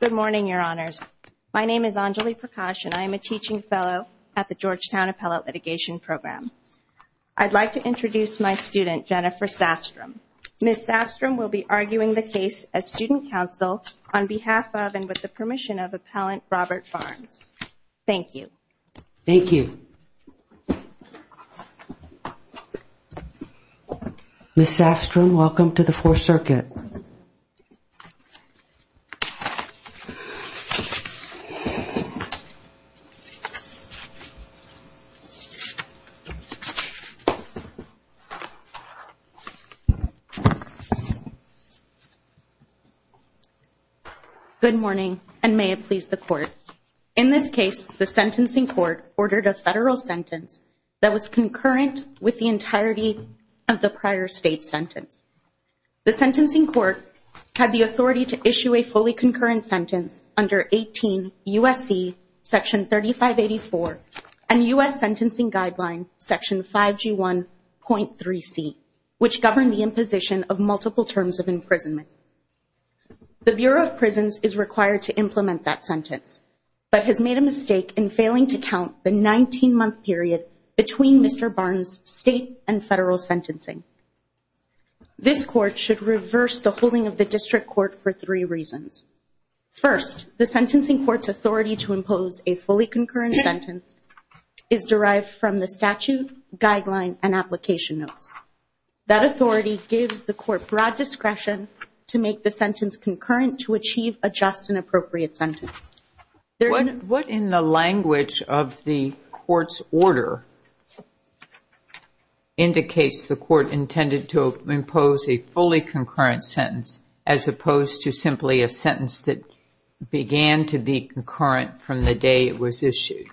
Good morning, your honors. My name is Anjali Prakash and I am a teaching fellow at the Georgetown Appellate Litigation Program. I'd like to introduce my student, Jennifer Safstrom. Ms. Safstrom will be arguing the case as student counsel on behalf of and with the permission of appellant Robert Barnes. Thank you. Thank you. Ms. Safstrom, welcome to the Fourth Circuit. Good morning and may it please the court. In this case, the sentencing court ordered a federal sentence that was concurrent with the entirety of the prior state sentence. The sentencing court had the authority to issue a fully concurrent sentence under 18 U.S.C. section 3584 and U.S. sentencing guideline section 5G1.3C, which governed the imposition of multiple terms of imprisonment. The Bureau of Prisons is required to implement that sentence but has made a mistake in failing to count the 19-month period between Mr. Barnes' state and federal sentencing. This court should reverse the holding of the district court for three reasons. First, the sentencing court's authority to impose a fully concurrent sentence is derived from the statute, guideline, and application notes. That authority gives the court broad discretion to make the sentence concurrent to achieve a just and appropriate sentence. What in the language of the court's order indicates the court intended to impose a fully concurrent sentence as opposed to simply a sentence that began to be concurrent from the day it was issued?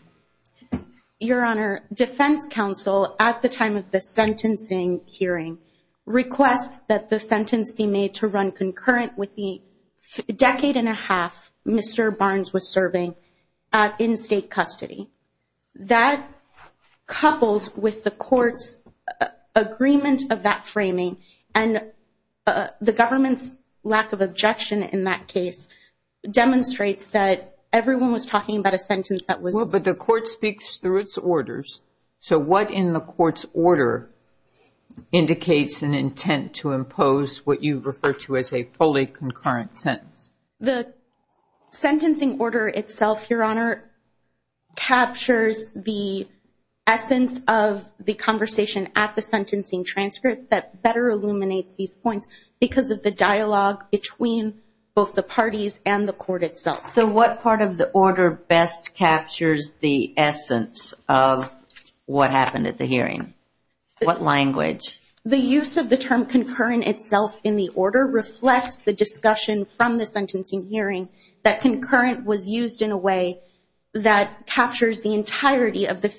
Your Honor, defense counsel at the time of the sentencing hearing requests that the sentence be made to run concurrent with the decade and a half Mr. Barnes was serving in state custody. That coupled with the court's agreement of that framing and the government's lack of objection in that case demonstrates that everyone was talking about a sentence that was... Well, but the court speaks through its orders. So what in the court's order indicates an intent to impose what you refer to as a fully concurrent sentence? The sentencing order itself, Your Honor, captures the essence of the conversation at the sentencing transcript that better illuminates these points because of the dialogue between both the parties and the court itself. So what part of the order best captures the essence of what happened at the hearing? What language? The use of the term concurrent itself in the order reflects the discussion from the sentencing hearing that concurrent was used in a way that captures the entirety of the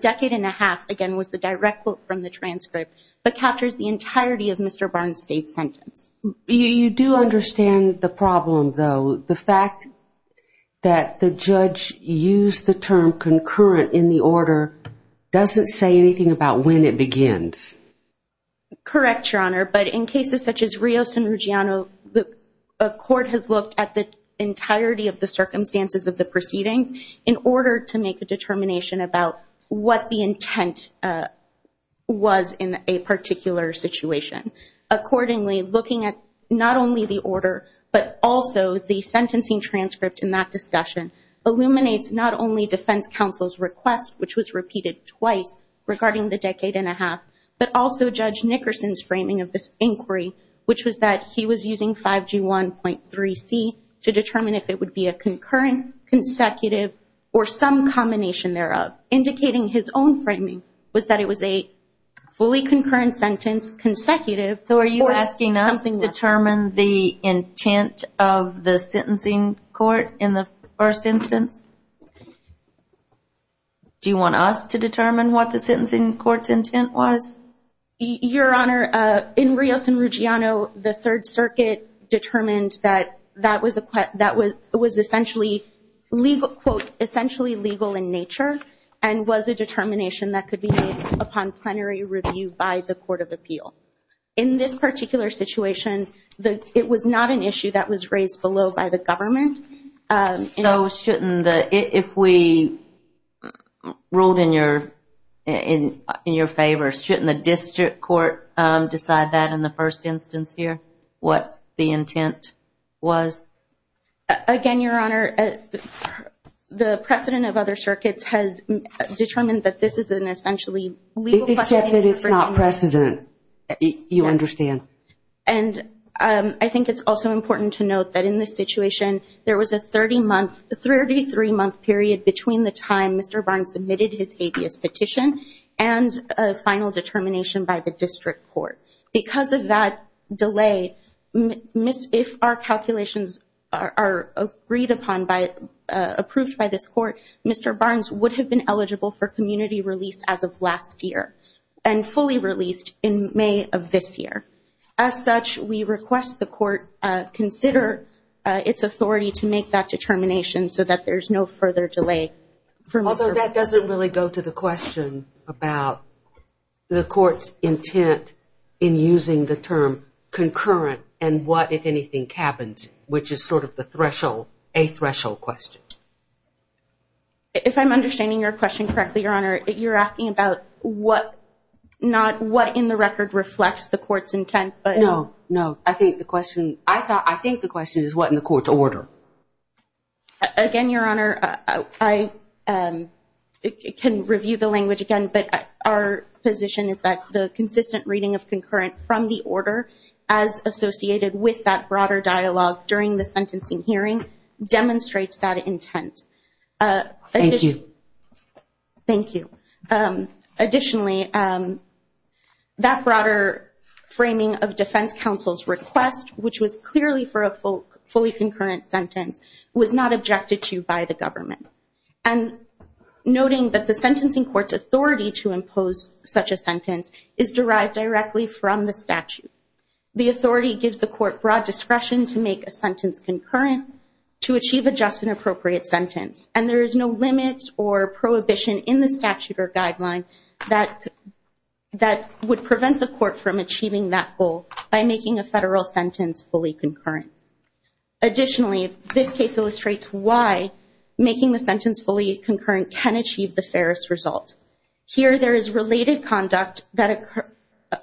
decade and a half, again, was the direct quote from the transcript, but captures the entirety of Mr. Barnes' state sentence. You do understand the problem, though. The fact that the judge used the term concurrent in the order doesn't say anything about when it begins. Correct, Your Honor, but in cases such as Rios and Ruggiano, the court has looked at the entirety of the circumstances of the proceedings in order to make a determination about what the intent was in a particular situation. Accordingly, looking at not only the order but also the sentencing transcript in that discussion illuminates not only defense counsel's request, which was repeated twice regarding the decade and a half, but also Judge Nickerson's framing of this inquiry, which was that he was using 5G1.3C to determine if it would be a concurrent, consecutive, or some combination thereof. Indicating his own framing was that it was a fully concurrent sentence, consecutive. So are you asking us to determine the intent of the sentencing court in the first instance? Do you want us to determine what the sentencing court's intent was? Your Honor, in Rios and Ruggiano, the Third Circuit determined that that was essentially legal in nature and was a determination that could be made upon plenary review by the Court of Appeal. In this particular situation, it was not an issue that was raised below by the government. So if we ruled in your favor, shouldn't the district court decide that in the first instance here, what the intent was? Again, Your Honor, the precedent of other circuits has determined that this is an essentially legal precedent. Except that it's not precedent. You understand. I think it's also important to note that in this situation, there was a 33-month period between the time Mr. Barnes submitted his habeas petition and a final determination by the district court. Because of that delay, if our calculations are approved by this court, Mr. Barnes would have been eligible for community release as of last year and fully released in May of this year. As such, we request the court consider its authority to make that determination so that there's no further delay. Although that doesn't really go to the question about the court's intent in using the term concurrent and what, if anything, cabins, which is sort of a threshold question. If I'm understanding your question correctly, Your Honor, you're asking about what in the record reflects the court's intent. No, no. I think the question is what in the court's order. Again, Your Honor, I can review the language again. But our position is that the consistent reading of concurrent from the order as associated with that broader dialogue during the sentencing hearing demonstrates that intent. Thank you. Thank you. Additionally, that broader framing of defense counsel's request, which was clearly for a fully concurrent sentence, was not objected to by the government. And noting that the sentencing court's authority to impose such a sentence is derived directly from the statute. The authority gives the court broad discretion to make a sentence concurrent to achieve a just and appropriate sentence. And there is no limit or prohibition in the statute or guideline that would prevent the court from achieving that goal by making a federal sentence fully concurrent. Additionally, this case illustrates why making the sentence fully concurrent can achieve the fairest result. Here, there is related conduct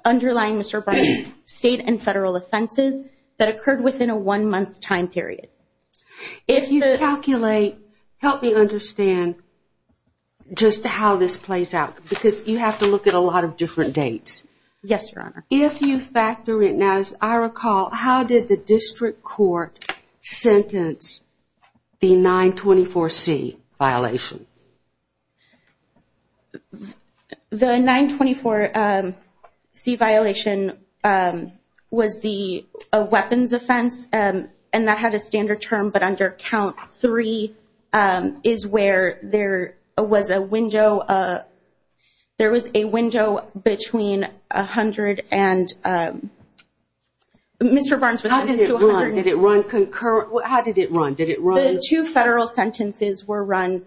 underlying Mr. Bryant's state and federal offenses that occurred within a one-month time period. If you calculate, help me understand just how this plays out because you have to look at a lot of different dates. Yes, Your Honor. If you factor in, as I recall, how did the district court sentence the 924C violation? The 924C violation was the weapons offense, and that had a standard term, but under count three is where there was a window. There was a window between 100 and Mr. Barnes. How did it run? Did it run concurrent? How did it run? Did it run? The two federal sentences were run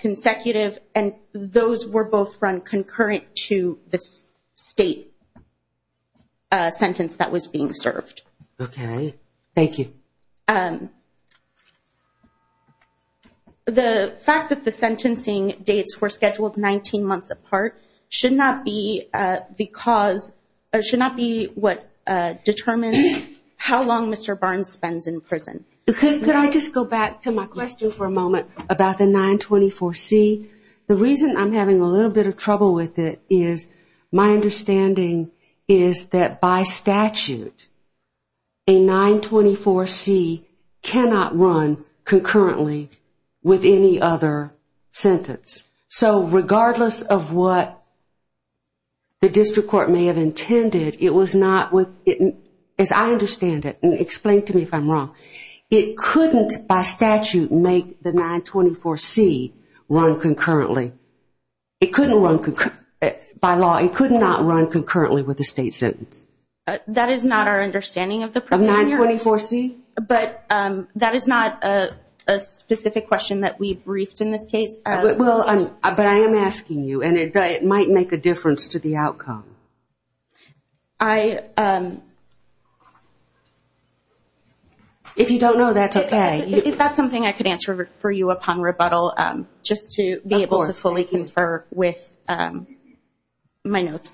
consecutive, and those were both run concurrent to the state sentence that was being served. Okay. Thank you. The fact that the sentencing dates were scheduled 19 months apart should not be what determines how long Mr. Barnes spends in prison. Could I just go back to my question for a moment about the 924C? The reason I'm having a little bit of trouble with it is my understanding is that by statute, a 924C cannot run concurrently with any other sentence. So regardless of what the district court may have intended, it was not, as I understand it, and explain to me if I'm wrong, it couldn't by statute make the 924C run concurrently. It couldn't run by law. It could not run concurrently with the state sentence. That is not our understanding of the provision. Of 924C? But that is not a specific question that we briefed in this case. But I am asking you, and it might make a difference to the outcome. If you don't know, that's okay. Is that something I could answer for you upon rebuttal just to be able to fully confer with my notes?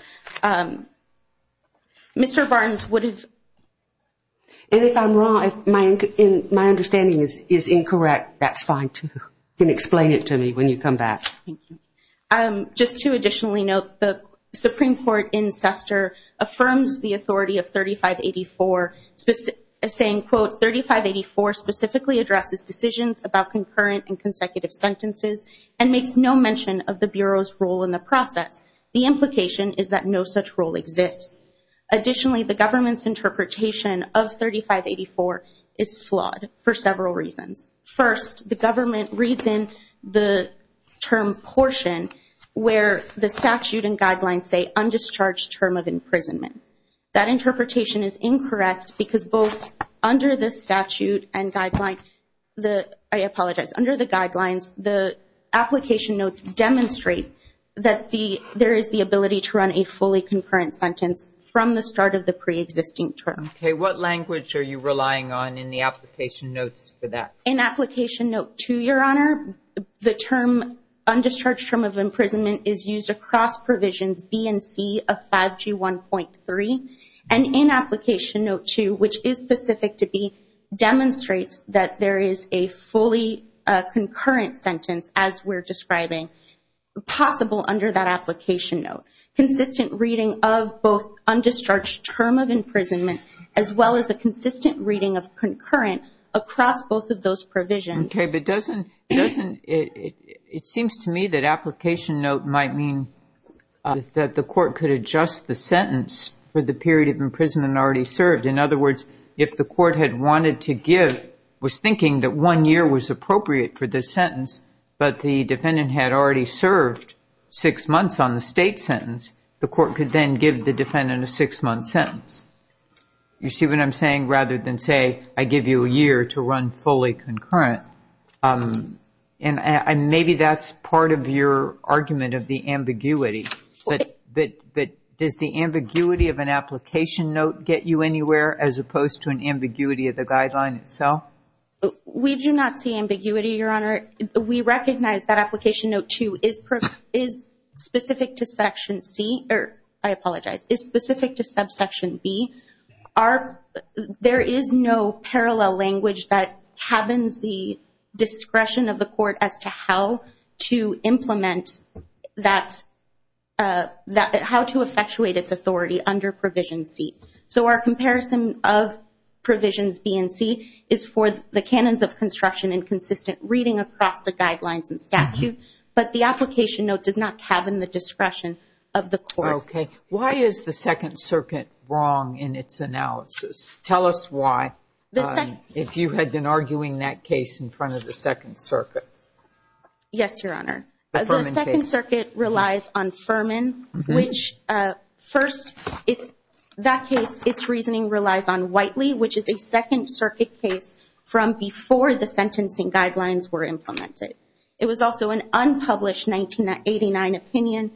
Mr. Barnes would have... And if I'm wrong, if my understanding is incorrect, that's fine too. You can explain it to me when you come back. Thank you. Just to additionally note, the Supreme Court in Sester affirms the authority of 3584, saying, quote, 3584 specifically addresses decisions about concurrent and consecutive sentences and makes no mention of the Bureau's role in the process. The implication is that no such role exists. Additionally, the government's interpretation of 3584 is flawed for several reasons. First, the government reads in the term portion where the statute and guidelines say undischarged term of imprisonment. That interpretation is incorrect because both under the statute and guidelines, I apologize, under the guidelines, the application notes demonstrate that there is the ability to run a fully concurrent sentence from the start of the preexisting term. Okay. What language are you relying on in the application notes for that? In application note 2, Your Honor, the term undischarged term of imprisonment is used across provisions B and C of 5G1.3, and in application note 2, which is specific to B, demonstrates that there is a fully concurrent sentence as we're describing possible under that application note, consistent reading of both undischarged term of imprisonment as well as a consistent reading of concurrent across both of those provisions. Okay, but doesn't it seems to me that application note might mean that the court could adjust the sentence for the period of imprisonment already served. In other words, if the court had wanted to give, was thinking that one year was appropriate for this sentence, but the defendant had already served six months on the state sentence, the court could then give the defendant a six-month sentence. You see what I'm saying? Rather than say, I give you a year to run fully concurrent. And maybe that's part of your argument of the ambiguity. But does the ambiguity of an application note get you anywhere as opposed to an ambiguity of the guideline itself? We do not see ambiguity, Your Honor. We recognize that application note 2 is specific to section C, or I apologize, is specific to subsection B. There is no parallel language that cabins the discretion of the court as to how to implement that, how to effectuate its authority under provision C. So our comparison of provisions B and C is for the canons of construction and consistent reading across the guidelines and statute, but the application note does not cabin the discretion of the court. Okay. Why is the Second Circuit wrong in its analysis? Tell us why, if you had been arguing that case in front of the Second Circuit. Yes, Your Honor. The Second Circuit relies on Furman, which first, that case, its reasoning relies on Whiteley, which is a Second Circuit case from before the sentencing guidelines were implemented. It was also an unpublished 1989 opinion.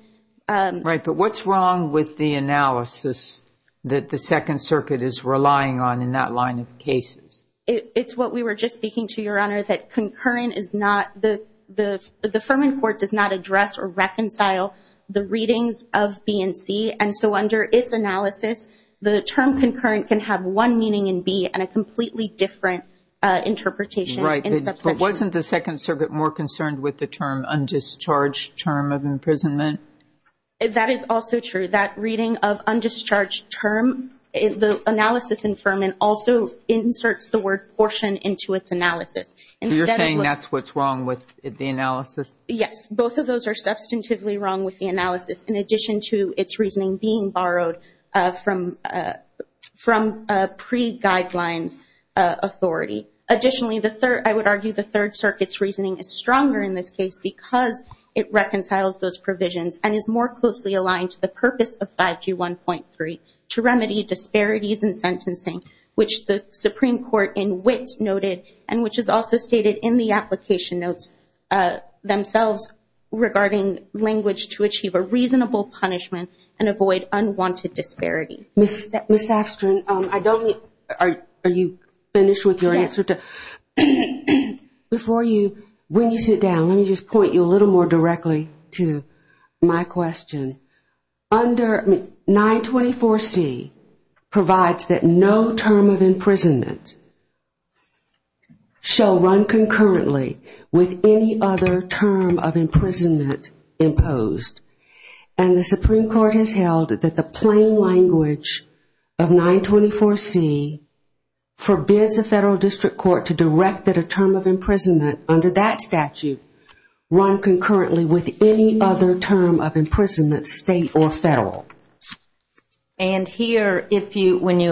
Right. But what's wrong with the analysis that the Second Circuit is relying on in that line of cases? It's what we were just speaking to, Your Honor, that concurrent is not, the Furman court does not address or reconcile the readings of B and C. And so under its analysis, the term concurrent can have one meaning in B and a completely different interpretation. Right. But wasn't the Second Circuit more concerned with the term undischarged term of imprisonment? That is also true. That reading of undischarged term, the analysis in Furman also inserts the word portion into its analysis. So you're saying that's what's wrong with the analysis? Yes. Both of those are substantively wrong with the analysis, in addition to its reasoning being borrowed from pre-guidelines authority. Additionally, I would argue the Third Circuit's reasoning is stronger in this case because it reconciles those provisions and is more closely aligned to the purpose of 5G1.3, to remedy disparities in sentencing, which the Supreme Court in wit noted, and which is also stated in the application notes themselves, regarding language to achieve a reasonable punishment and avoid unwanted disparity. Ms. Afstrin, are you finished with your answer? Yes. Before you, when you sit down, let me just point you a little more directly to my question. Under 924C provides that no term of imprisonment shall run concurrently with any other term of imprisonment imposed. And the Supreme Court has held that the plain language of 924C forbids a federal district court to direct that a term of imprisonment under that statute run concurrently with any other term of imprisonment, state or federal. And here,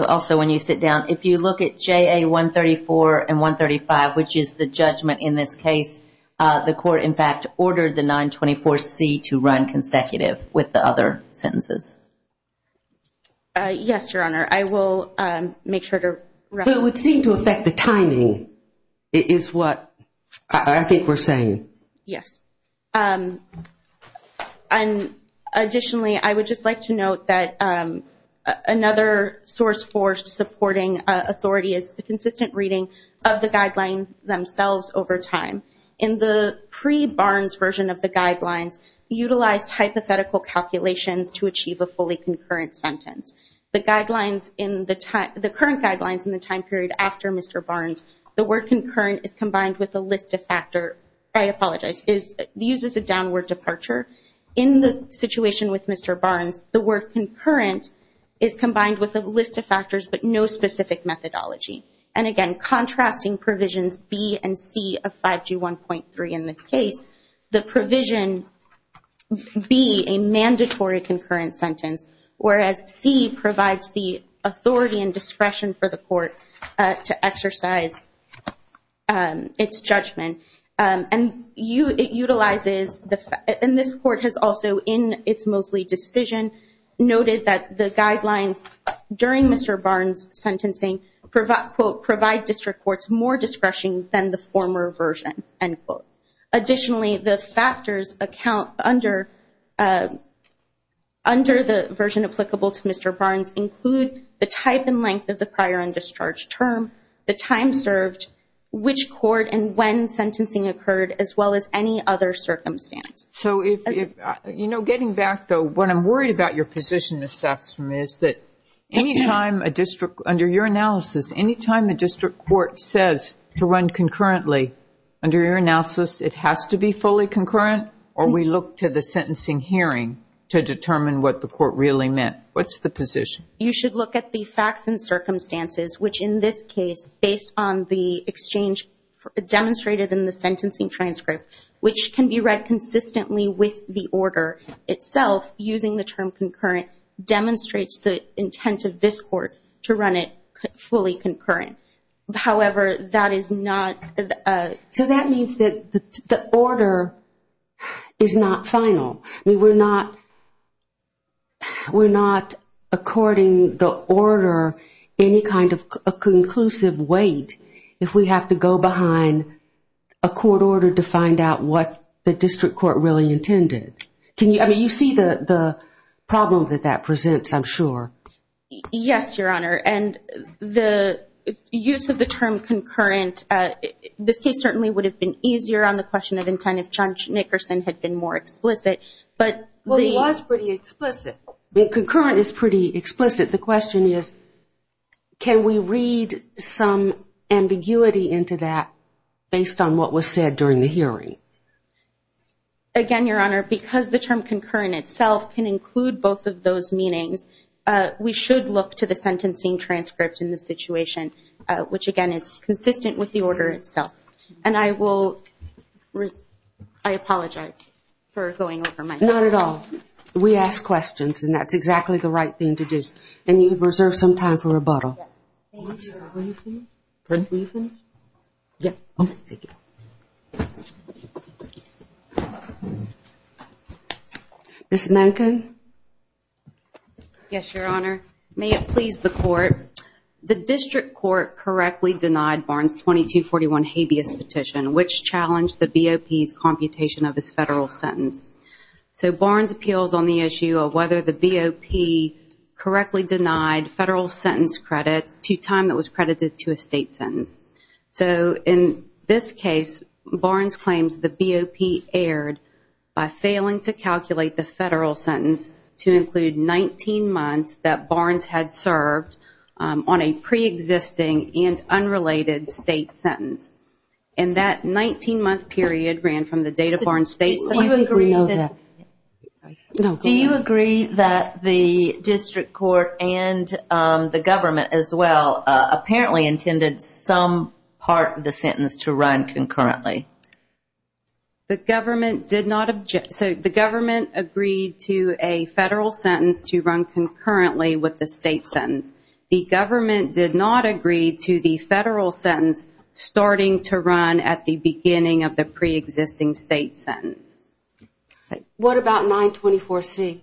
also when you sit down, if you look at JA134 and 135, which is the judgment in this case, the court, in fact, ordered the 924C to run consecutive with the other sentences. Yes, Your Honor. I will make sure to reference that. It would seem to affect the timing is what I think we're saying. Yes. Additionally, I would just like to note that another source for supporting authority is the consistent reading of the guidelines themselves over time. In the pre-Barnes version of the guidelines, we utilized hypothetical calculations to achieve a fully concurrent sentence. The current guidelines in the time period after Mr. Barnes, the word concurrent is combined with a list of factors. I apologize. It uses a downward departure. In the situation with Mr. Barnes, the word concurrent is combined with a list of factors but no specific methodology. And again, contrasting provisions B and C of 5G1.3 in this case, the provision B, a mandatory concurrent sentence, whereas C provides the authority and discretion for the court to exercise its judgment. And this court has also, in its Mosley decision, noted that the guidelines during Mr. Barnes' sentencing provide district courts more discretion than the former version. Additionally, the factors under the version applicable to Mr. Barnes include the type and length of the prior and discharge term, the time served, which court and when sentencing occurred, as well as any other circumstance. Getting back, though, what I'm worried about your position, Ms. Saffstrom, is that any time a district, under your analysis, any time a district court says to run concurrently, under your analysis, it has to be fully concurrent or we look to the sentencing hearing to determine what the court really meant. What's the position? You should look at the facts and circumstances, which in this case, based on the exchange demonstrated in the sentencing transcript, which can be read consistently with the order itself using the term concurrent, demonstrates the intent of this court to run it fully concurrent. However, that is not a... So that means that the order is not final. I mean, we're not according the order any kind of a conclusive weight if we have to go behind a court order to find out what the district court really intended. I mean, you see the problem that that presents, I'm sure. Yes, Your Honor, and the use of the term concurrent, this case certainly would have been easier on the question of intent if John Nickerson had been more explicit. Well, he was pretty explicit. Concurrent is pretty explicit. The question is can we read some ambiguity into that based on what was said during the hearing? Again, Your Honor, because the term concurrent itself can include both of those meanings, we should look to the sentencing transcript in this situation, which again is consistent with the order itself. And I will... I apologize for going over my notes. Not at all. We ask questions, and that's exactly the right thing to do. And you've reserved some time for rebuttal. Thank you, Your Honor. Are you finished? Pardon? Are you finished? Yes. Okay, thank you. Ms. Mencken? Yes, Your Honor. May it please the Court, the district court correctly denied Barnes' 2241 habeas petition, which challenged the BOP's computation of his federal sentence. So Barnes appeals on the issue of whether the BOP correctly denied federal sentence credit to time that was credited to a state sentence. So in this case, Barnes claims the BOP erred by failing to calculate the federal sentence to include 19 months that Barnes had served on a preexisting and unrelated state sentence. And that 19-month period ran from the date of Barnes' state sentence... Do you agree that... Well, apparently intended some part of the sentence to run concurrently. The government did not... So the government agreed to a federal sentence to run concurrently with the state sentence. The government did not agree to the federal sentence starting to run at the beginning of the preexisting state sentence. What about 924C?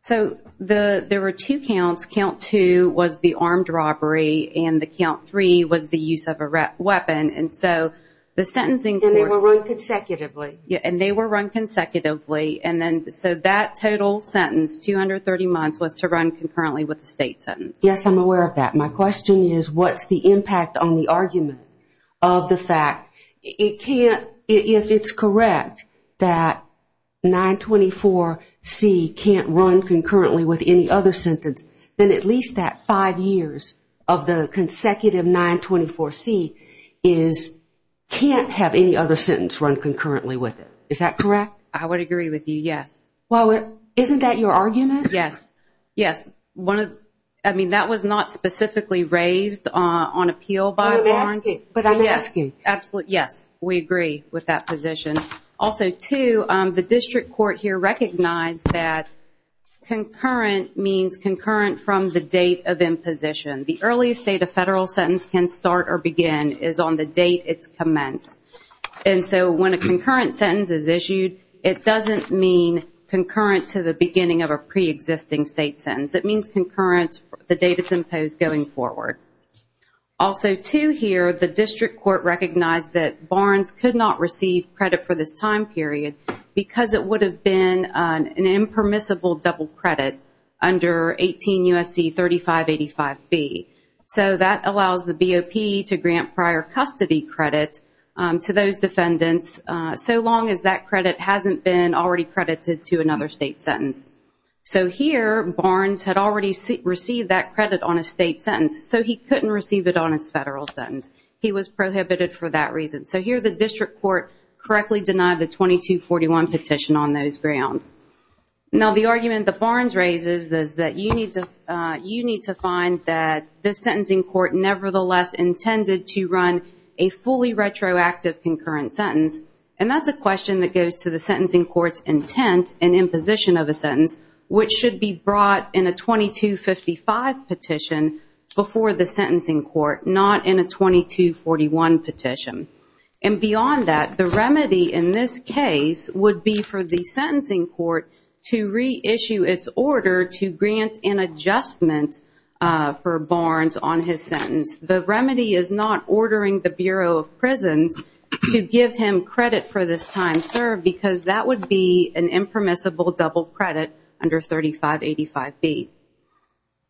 So there were two counts. Count 2 was the armed robbery and the count 3 was the use of a weapon. And so the sentencing court... And they were run consecutively. And they were run consecutively. So that total sentence, 230 months, was to run concurrently with the state sentence. Yes, I'm aware of that. My question is what's the impact on the argument of the fact it can't, if it's correct that 924C can't run concurrently with any other sentence, then at least that five years of the consecutive 924C can't have any other sentence run concurrently with it. Is that correct? I would agree with you, yes. Well, isn't that your argument? Yes. Yes. I mean, that was not specifically raised on appeal by Barnes. But I'm asking. Yes. Yes, we agree with that position. Also, two, the district court here recognized that concurrent means concurrent from the date of imposition. The earliest date a federal sentence can start or begin is on the date it's commenced. And so when a concurrent sentence is issued, it doesn't mean concurrent to the beginning of a preexisting state sentence. It means concurrent the date it's imposed going forward. Also, two, here the district court recognized that Barnes could not receive credit for this time period because it would have been an impermissible double credit under 18 U.S.C. 3585B. So that allows the BOP to grant prior custody credit to those defendants so long as that credit hasn't been already credited to another state sentence. So here Barnes had already received that credit on a state sentence. So he couldn't receive it on his federal sentence. He was prohibited for that reason. So here the district court correctly denied the 2241 petition on those grounds. Now, the argument that Barnes raises is that you need to find that the sentencing court nevertheless intended to run a fully retroactive concurrent sentence. And that's a question that goes to the sentencing court's intent and imposition of a sentence, which should be brought in a 2255 petition before the sentencing court, not in a 2241 petition. And beyond that, the remedy in this case would be for the sentencing court to reissue its order to grant an adjustment for Barnes on his sentence. The remedy is not ordering the Bureau of Prisons to give him credit for this time served because that would be an impermissible double credit under 3585B.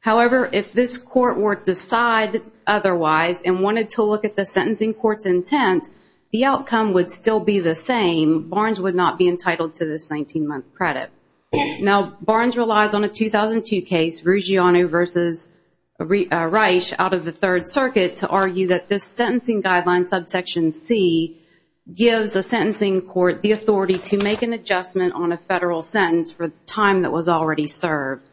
However, if this court were to decide otherwise and wanted to look at the sentencing court's intent, the outcome would still be the same. Barnes would not be entitled to this 19-month credit. Now, Barnes relies on a 2002 case, Ruggiano v. Reich, out of the Third Circuit, to argue that this sentencing guideline, subsection C, gives the sentencing court the authority to make an adjustment on a federal sentence for the time that was already served.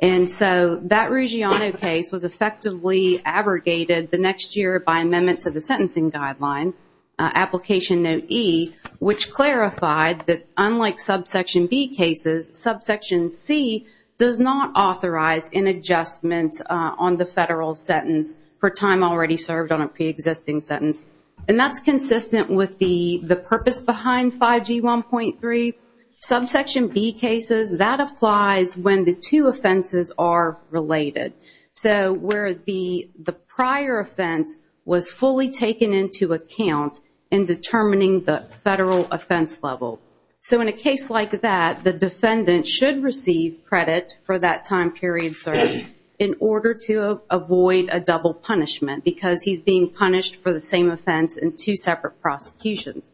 And so that Ruggiano case was effectively abrogated the next year by amendment to the sentencing guideline, application note E, which clarified that unlike subsection B cases, subsection C does not authorize an adjustment on the federal sentence for time already served on a preexisting sentence. And that's consistent with the purpose behind 5G1.3. Subsection B cases, that applies when the two offenses are related. So where the prior offense was fully taken into account in determining the federal offense level. So in a case like that, the defendant should receive credit for that time period served in order to avoid a double punishment because he's being punished for the same offense in two separate prosecutions.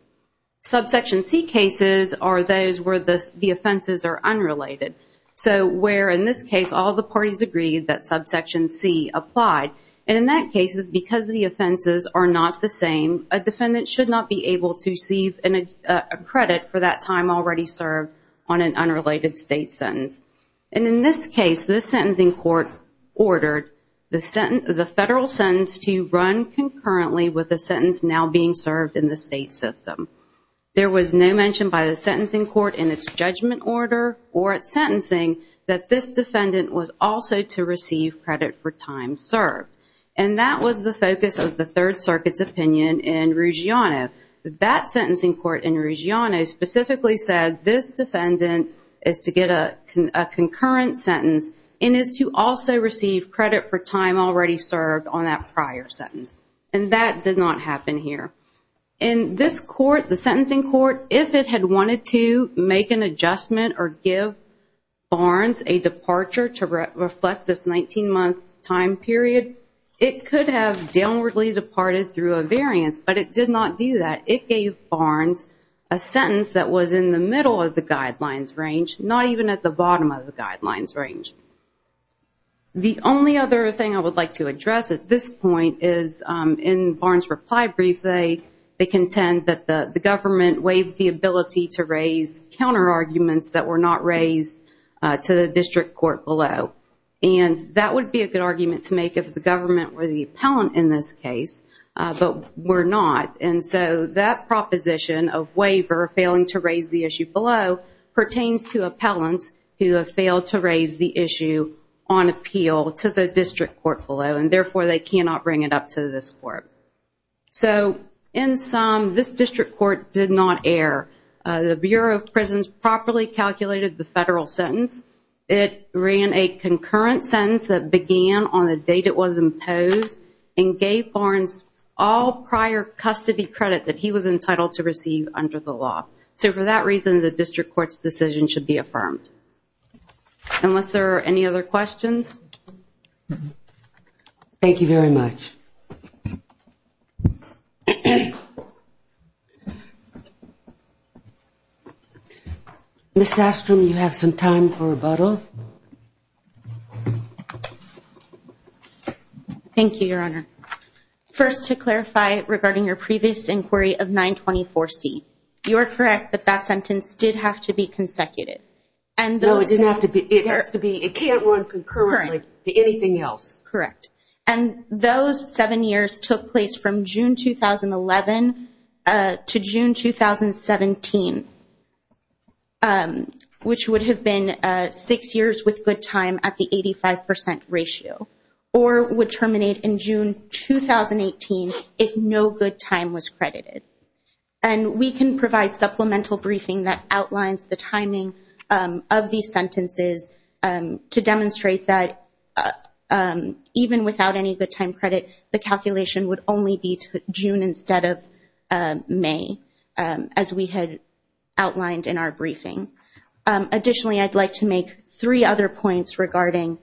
Subsection C cases are those where the offenses are unrelated. So where, in this case, all the parties agreed that subsection C applied. And in that case, because the offenses are not the same, a defendant should not be able to receive a credit for that time already served on an unrelated state sentence. And in this case, the sentencing court ordered the federal sentence to run concurrently with the sentence now being served in the state system. There was no mention by the sentencing court in its judgment order or its sentencing that this defendant was also to receive credit for time served. And that was the focus of the Third Circuit's opinion in Ruggiano. That sentencing court in Ruggiano specifically said this defendant is to get a concurrent sentence and is to also receive credit for time already served on that prior sentence. And that did not happen here. In this court, the sentencing court, if it had wanted to make an adjustment or give Barnes a departure to reflect this 19-month time period, it could have downwardly departed through a variance, but it did not do that. It gave Barnes a sentence that was in the middle of the guidelines range, not even at the bottom of the guidelines range. The only other thing I would like to address at this point is in Barnes' reply brief, they contend that the government waived the ability to raise counterarguments that were not raised to the district court below. And that would be a good argument to make if the government were the appellant in this case, but we're not. And so that proposition of waiver failing to raise the issue below pertains to appellants who have failed to raise the issue on appeal to the district court below, and therefore they cannot bring it up to this court. So in sum, this district court did not err. The Bureau of Prisons properly calculated the federal sentence. It ran a concurrent sentence that began on the date it was imposed and gave Barnes all prior custody credit that he was entitled to receive under the law. So for that reason, the district court's decision should be affirmed. Unless there are any other questions. Thank you very much. Ms. Astrom, you have some time for rebuttal. Thank you, Your Honor. First, to clarify regarding your previous inquiry of 924C, you are correct that that sentence did have to be consecutive. No, it didn't have to be. It has to be. It can't run concurrently to anything else. Correct. And those seven years took place from June 2011 to June 2017, which would have been six years with good time at the 85 percent ratio or would terminate in June 2018 if no good time was credited. And we can provide supplemental briefing that outlines the timing of these sentences to demonstrate that even without any good time credit, the calculation would only be June instead of May, as we had outlined in our briefing. Additionally, I'd like to make three other points regarding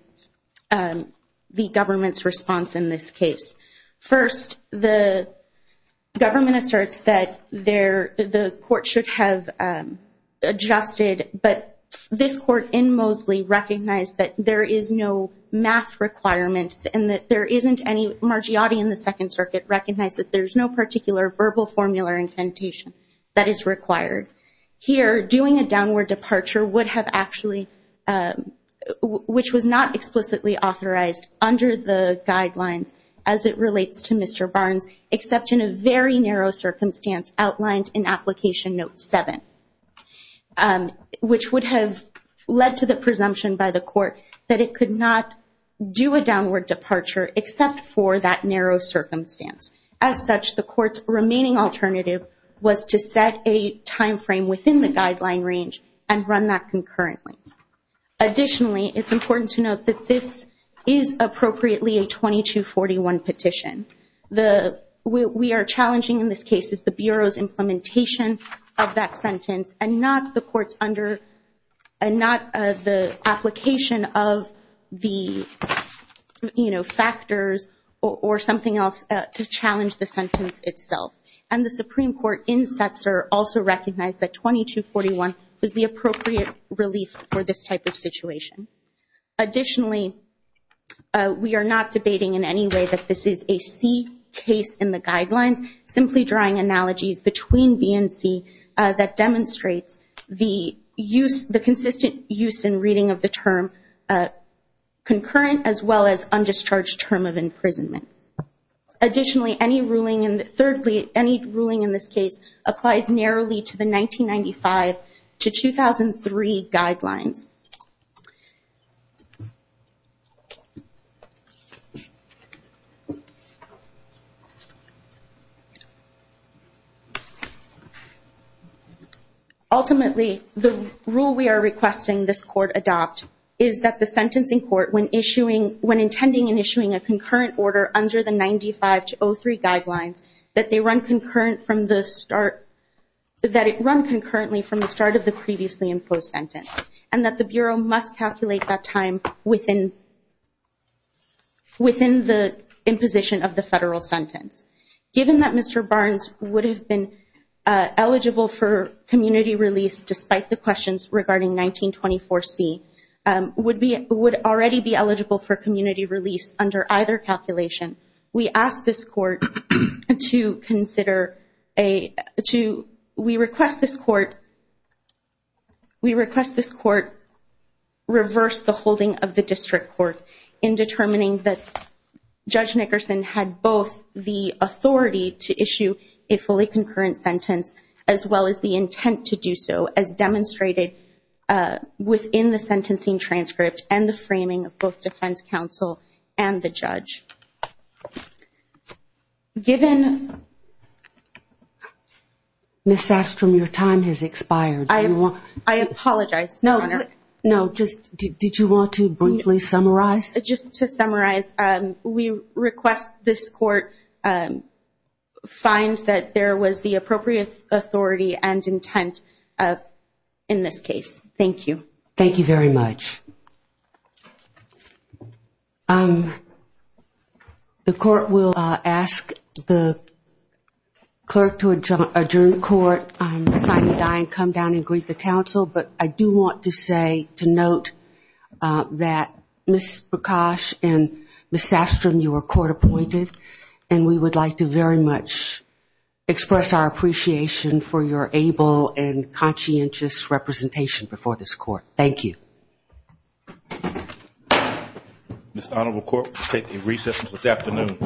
the government's response in this case. First, the government asserts that the court should have adjusted, but this court in Moseley recognized that there is no math requirement and that there isn't any Margiotti in the Second Circuit recognized that there's no particular verbal formula incantation that is required. Here, doing a downward departure would have actually, which was not explicitly authorized under the guidelines as it relates to Mr. Barnes, except in a very narrow circumstance outlined in Application Note 7, which would have led to the presumption by the court that it could not do a downward departure except for that narrow circumstance. As such, the court's remaining alternative was to set a timeframe within the guideline range and run that concurrently. Additionally, it's important to note that this is appropriately a 2241 petition. What we are challenging in this case is the Bureau's implementation of that sentence and not the application of the factors or something else to challenge the sentence itself. And the Supreme Court in Setzer also recognized that 2241 was the appropriate relief for this type of situation. Additionally, we are not debating in any way that this is a C case in the guidelines, simply drawing analogies between B and C that demonstrates the consistent use and reading of the term concurrent as well as undischarged term of imprisonment. Additionally, any ruling in this case applies narrowly to the 1995 to 2003 guidelines. Ultimately, the rule we are requesting this court adopt is that the sentencing court, when intending in issuing a concurrent order under the 1995 to 2003 guidelines, that it run concurrently from the start of the previously imposed sentence and that the Bureau must calculate that time within the imposition of the federal sentence. Given that Mr. Barnes would have been eligible for community release despite the questions regarding 1924C, would already be eligible for community release under either calculation, we request this court reverse the holding of the district court in determining that Judge Nickerson had both the authority to issue a fully concurrent sentence as well as the intent to do so as demonstrated within the sentencing transcript and the framing of both defense counsel and the judge. Ms. Safstrom, your time has expired. I apologize, Your Honor. Did you want to briefly summarize? Just to summarize, we request this court find that there was the appropriate authority and intent in this case. Thank you. Thank you very much. The court will ask the clerk to adjourn the court, sign the die, and come down and greet the counsel. But I do want to note that Ms. Prakash and Ms. Safstrom, you were court appointed, and we would like to very much express our appreciation for your able and conscientious representation before this court. Thank you. This honorable court will take a recess until this afternoon.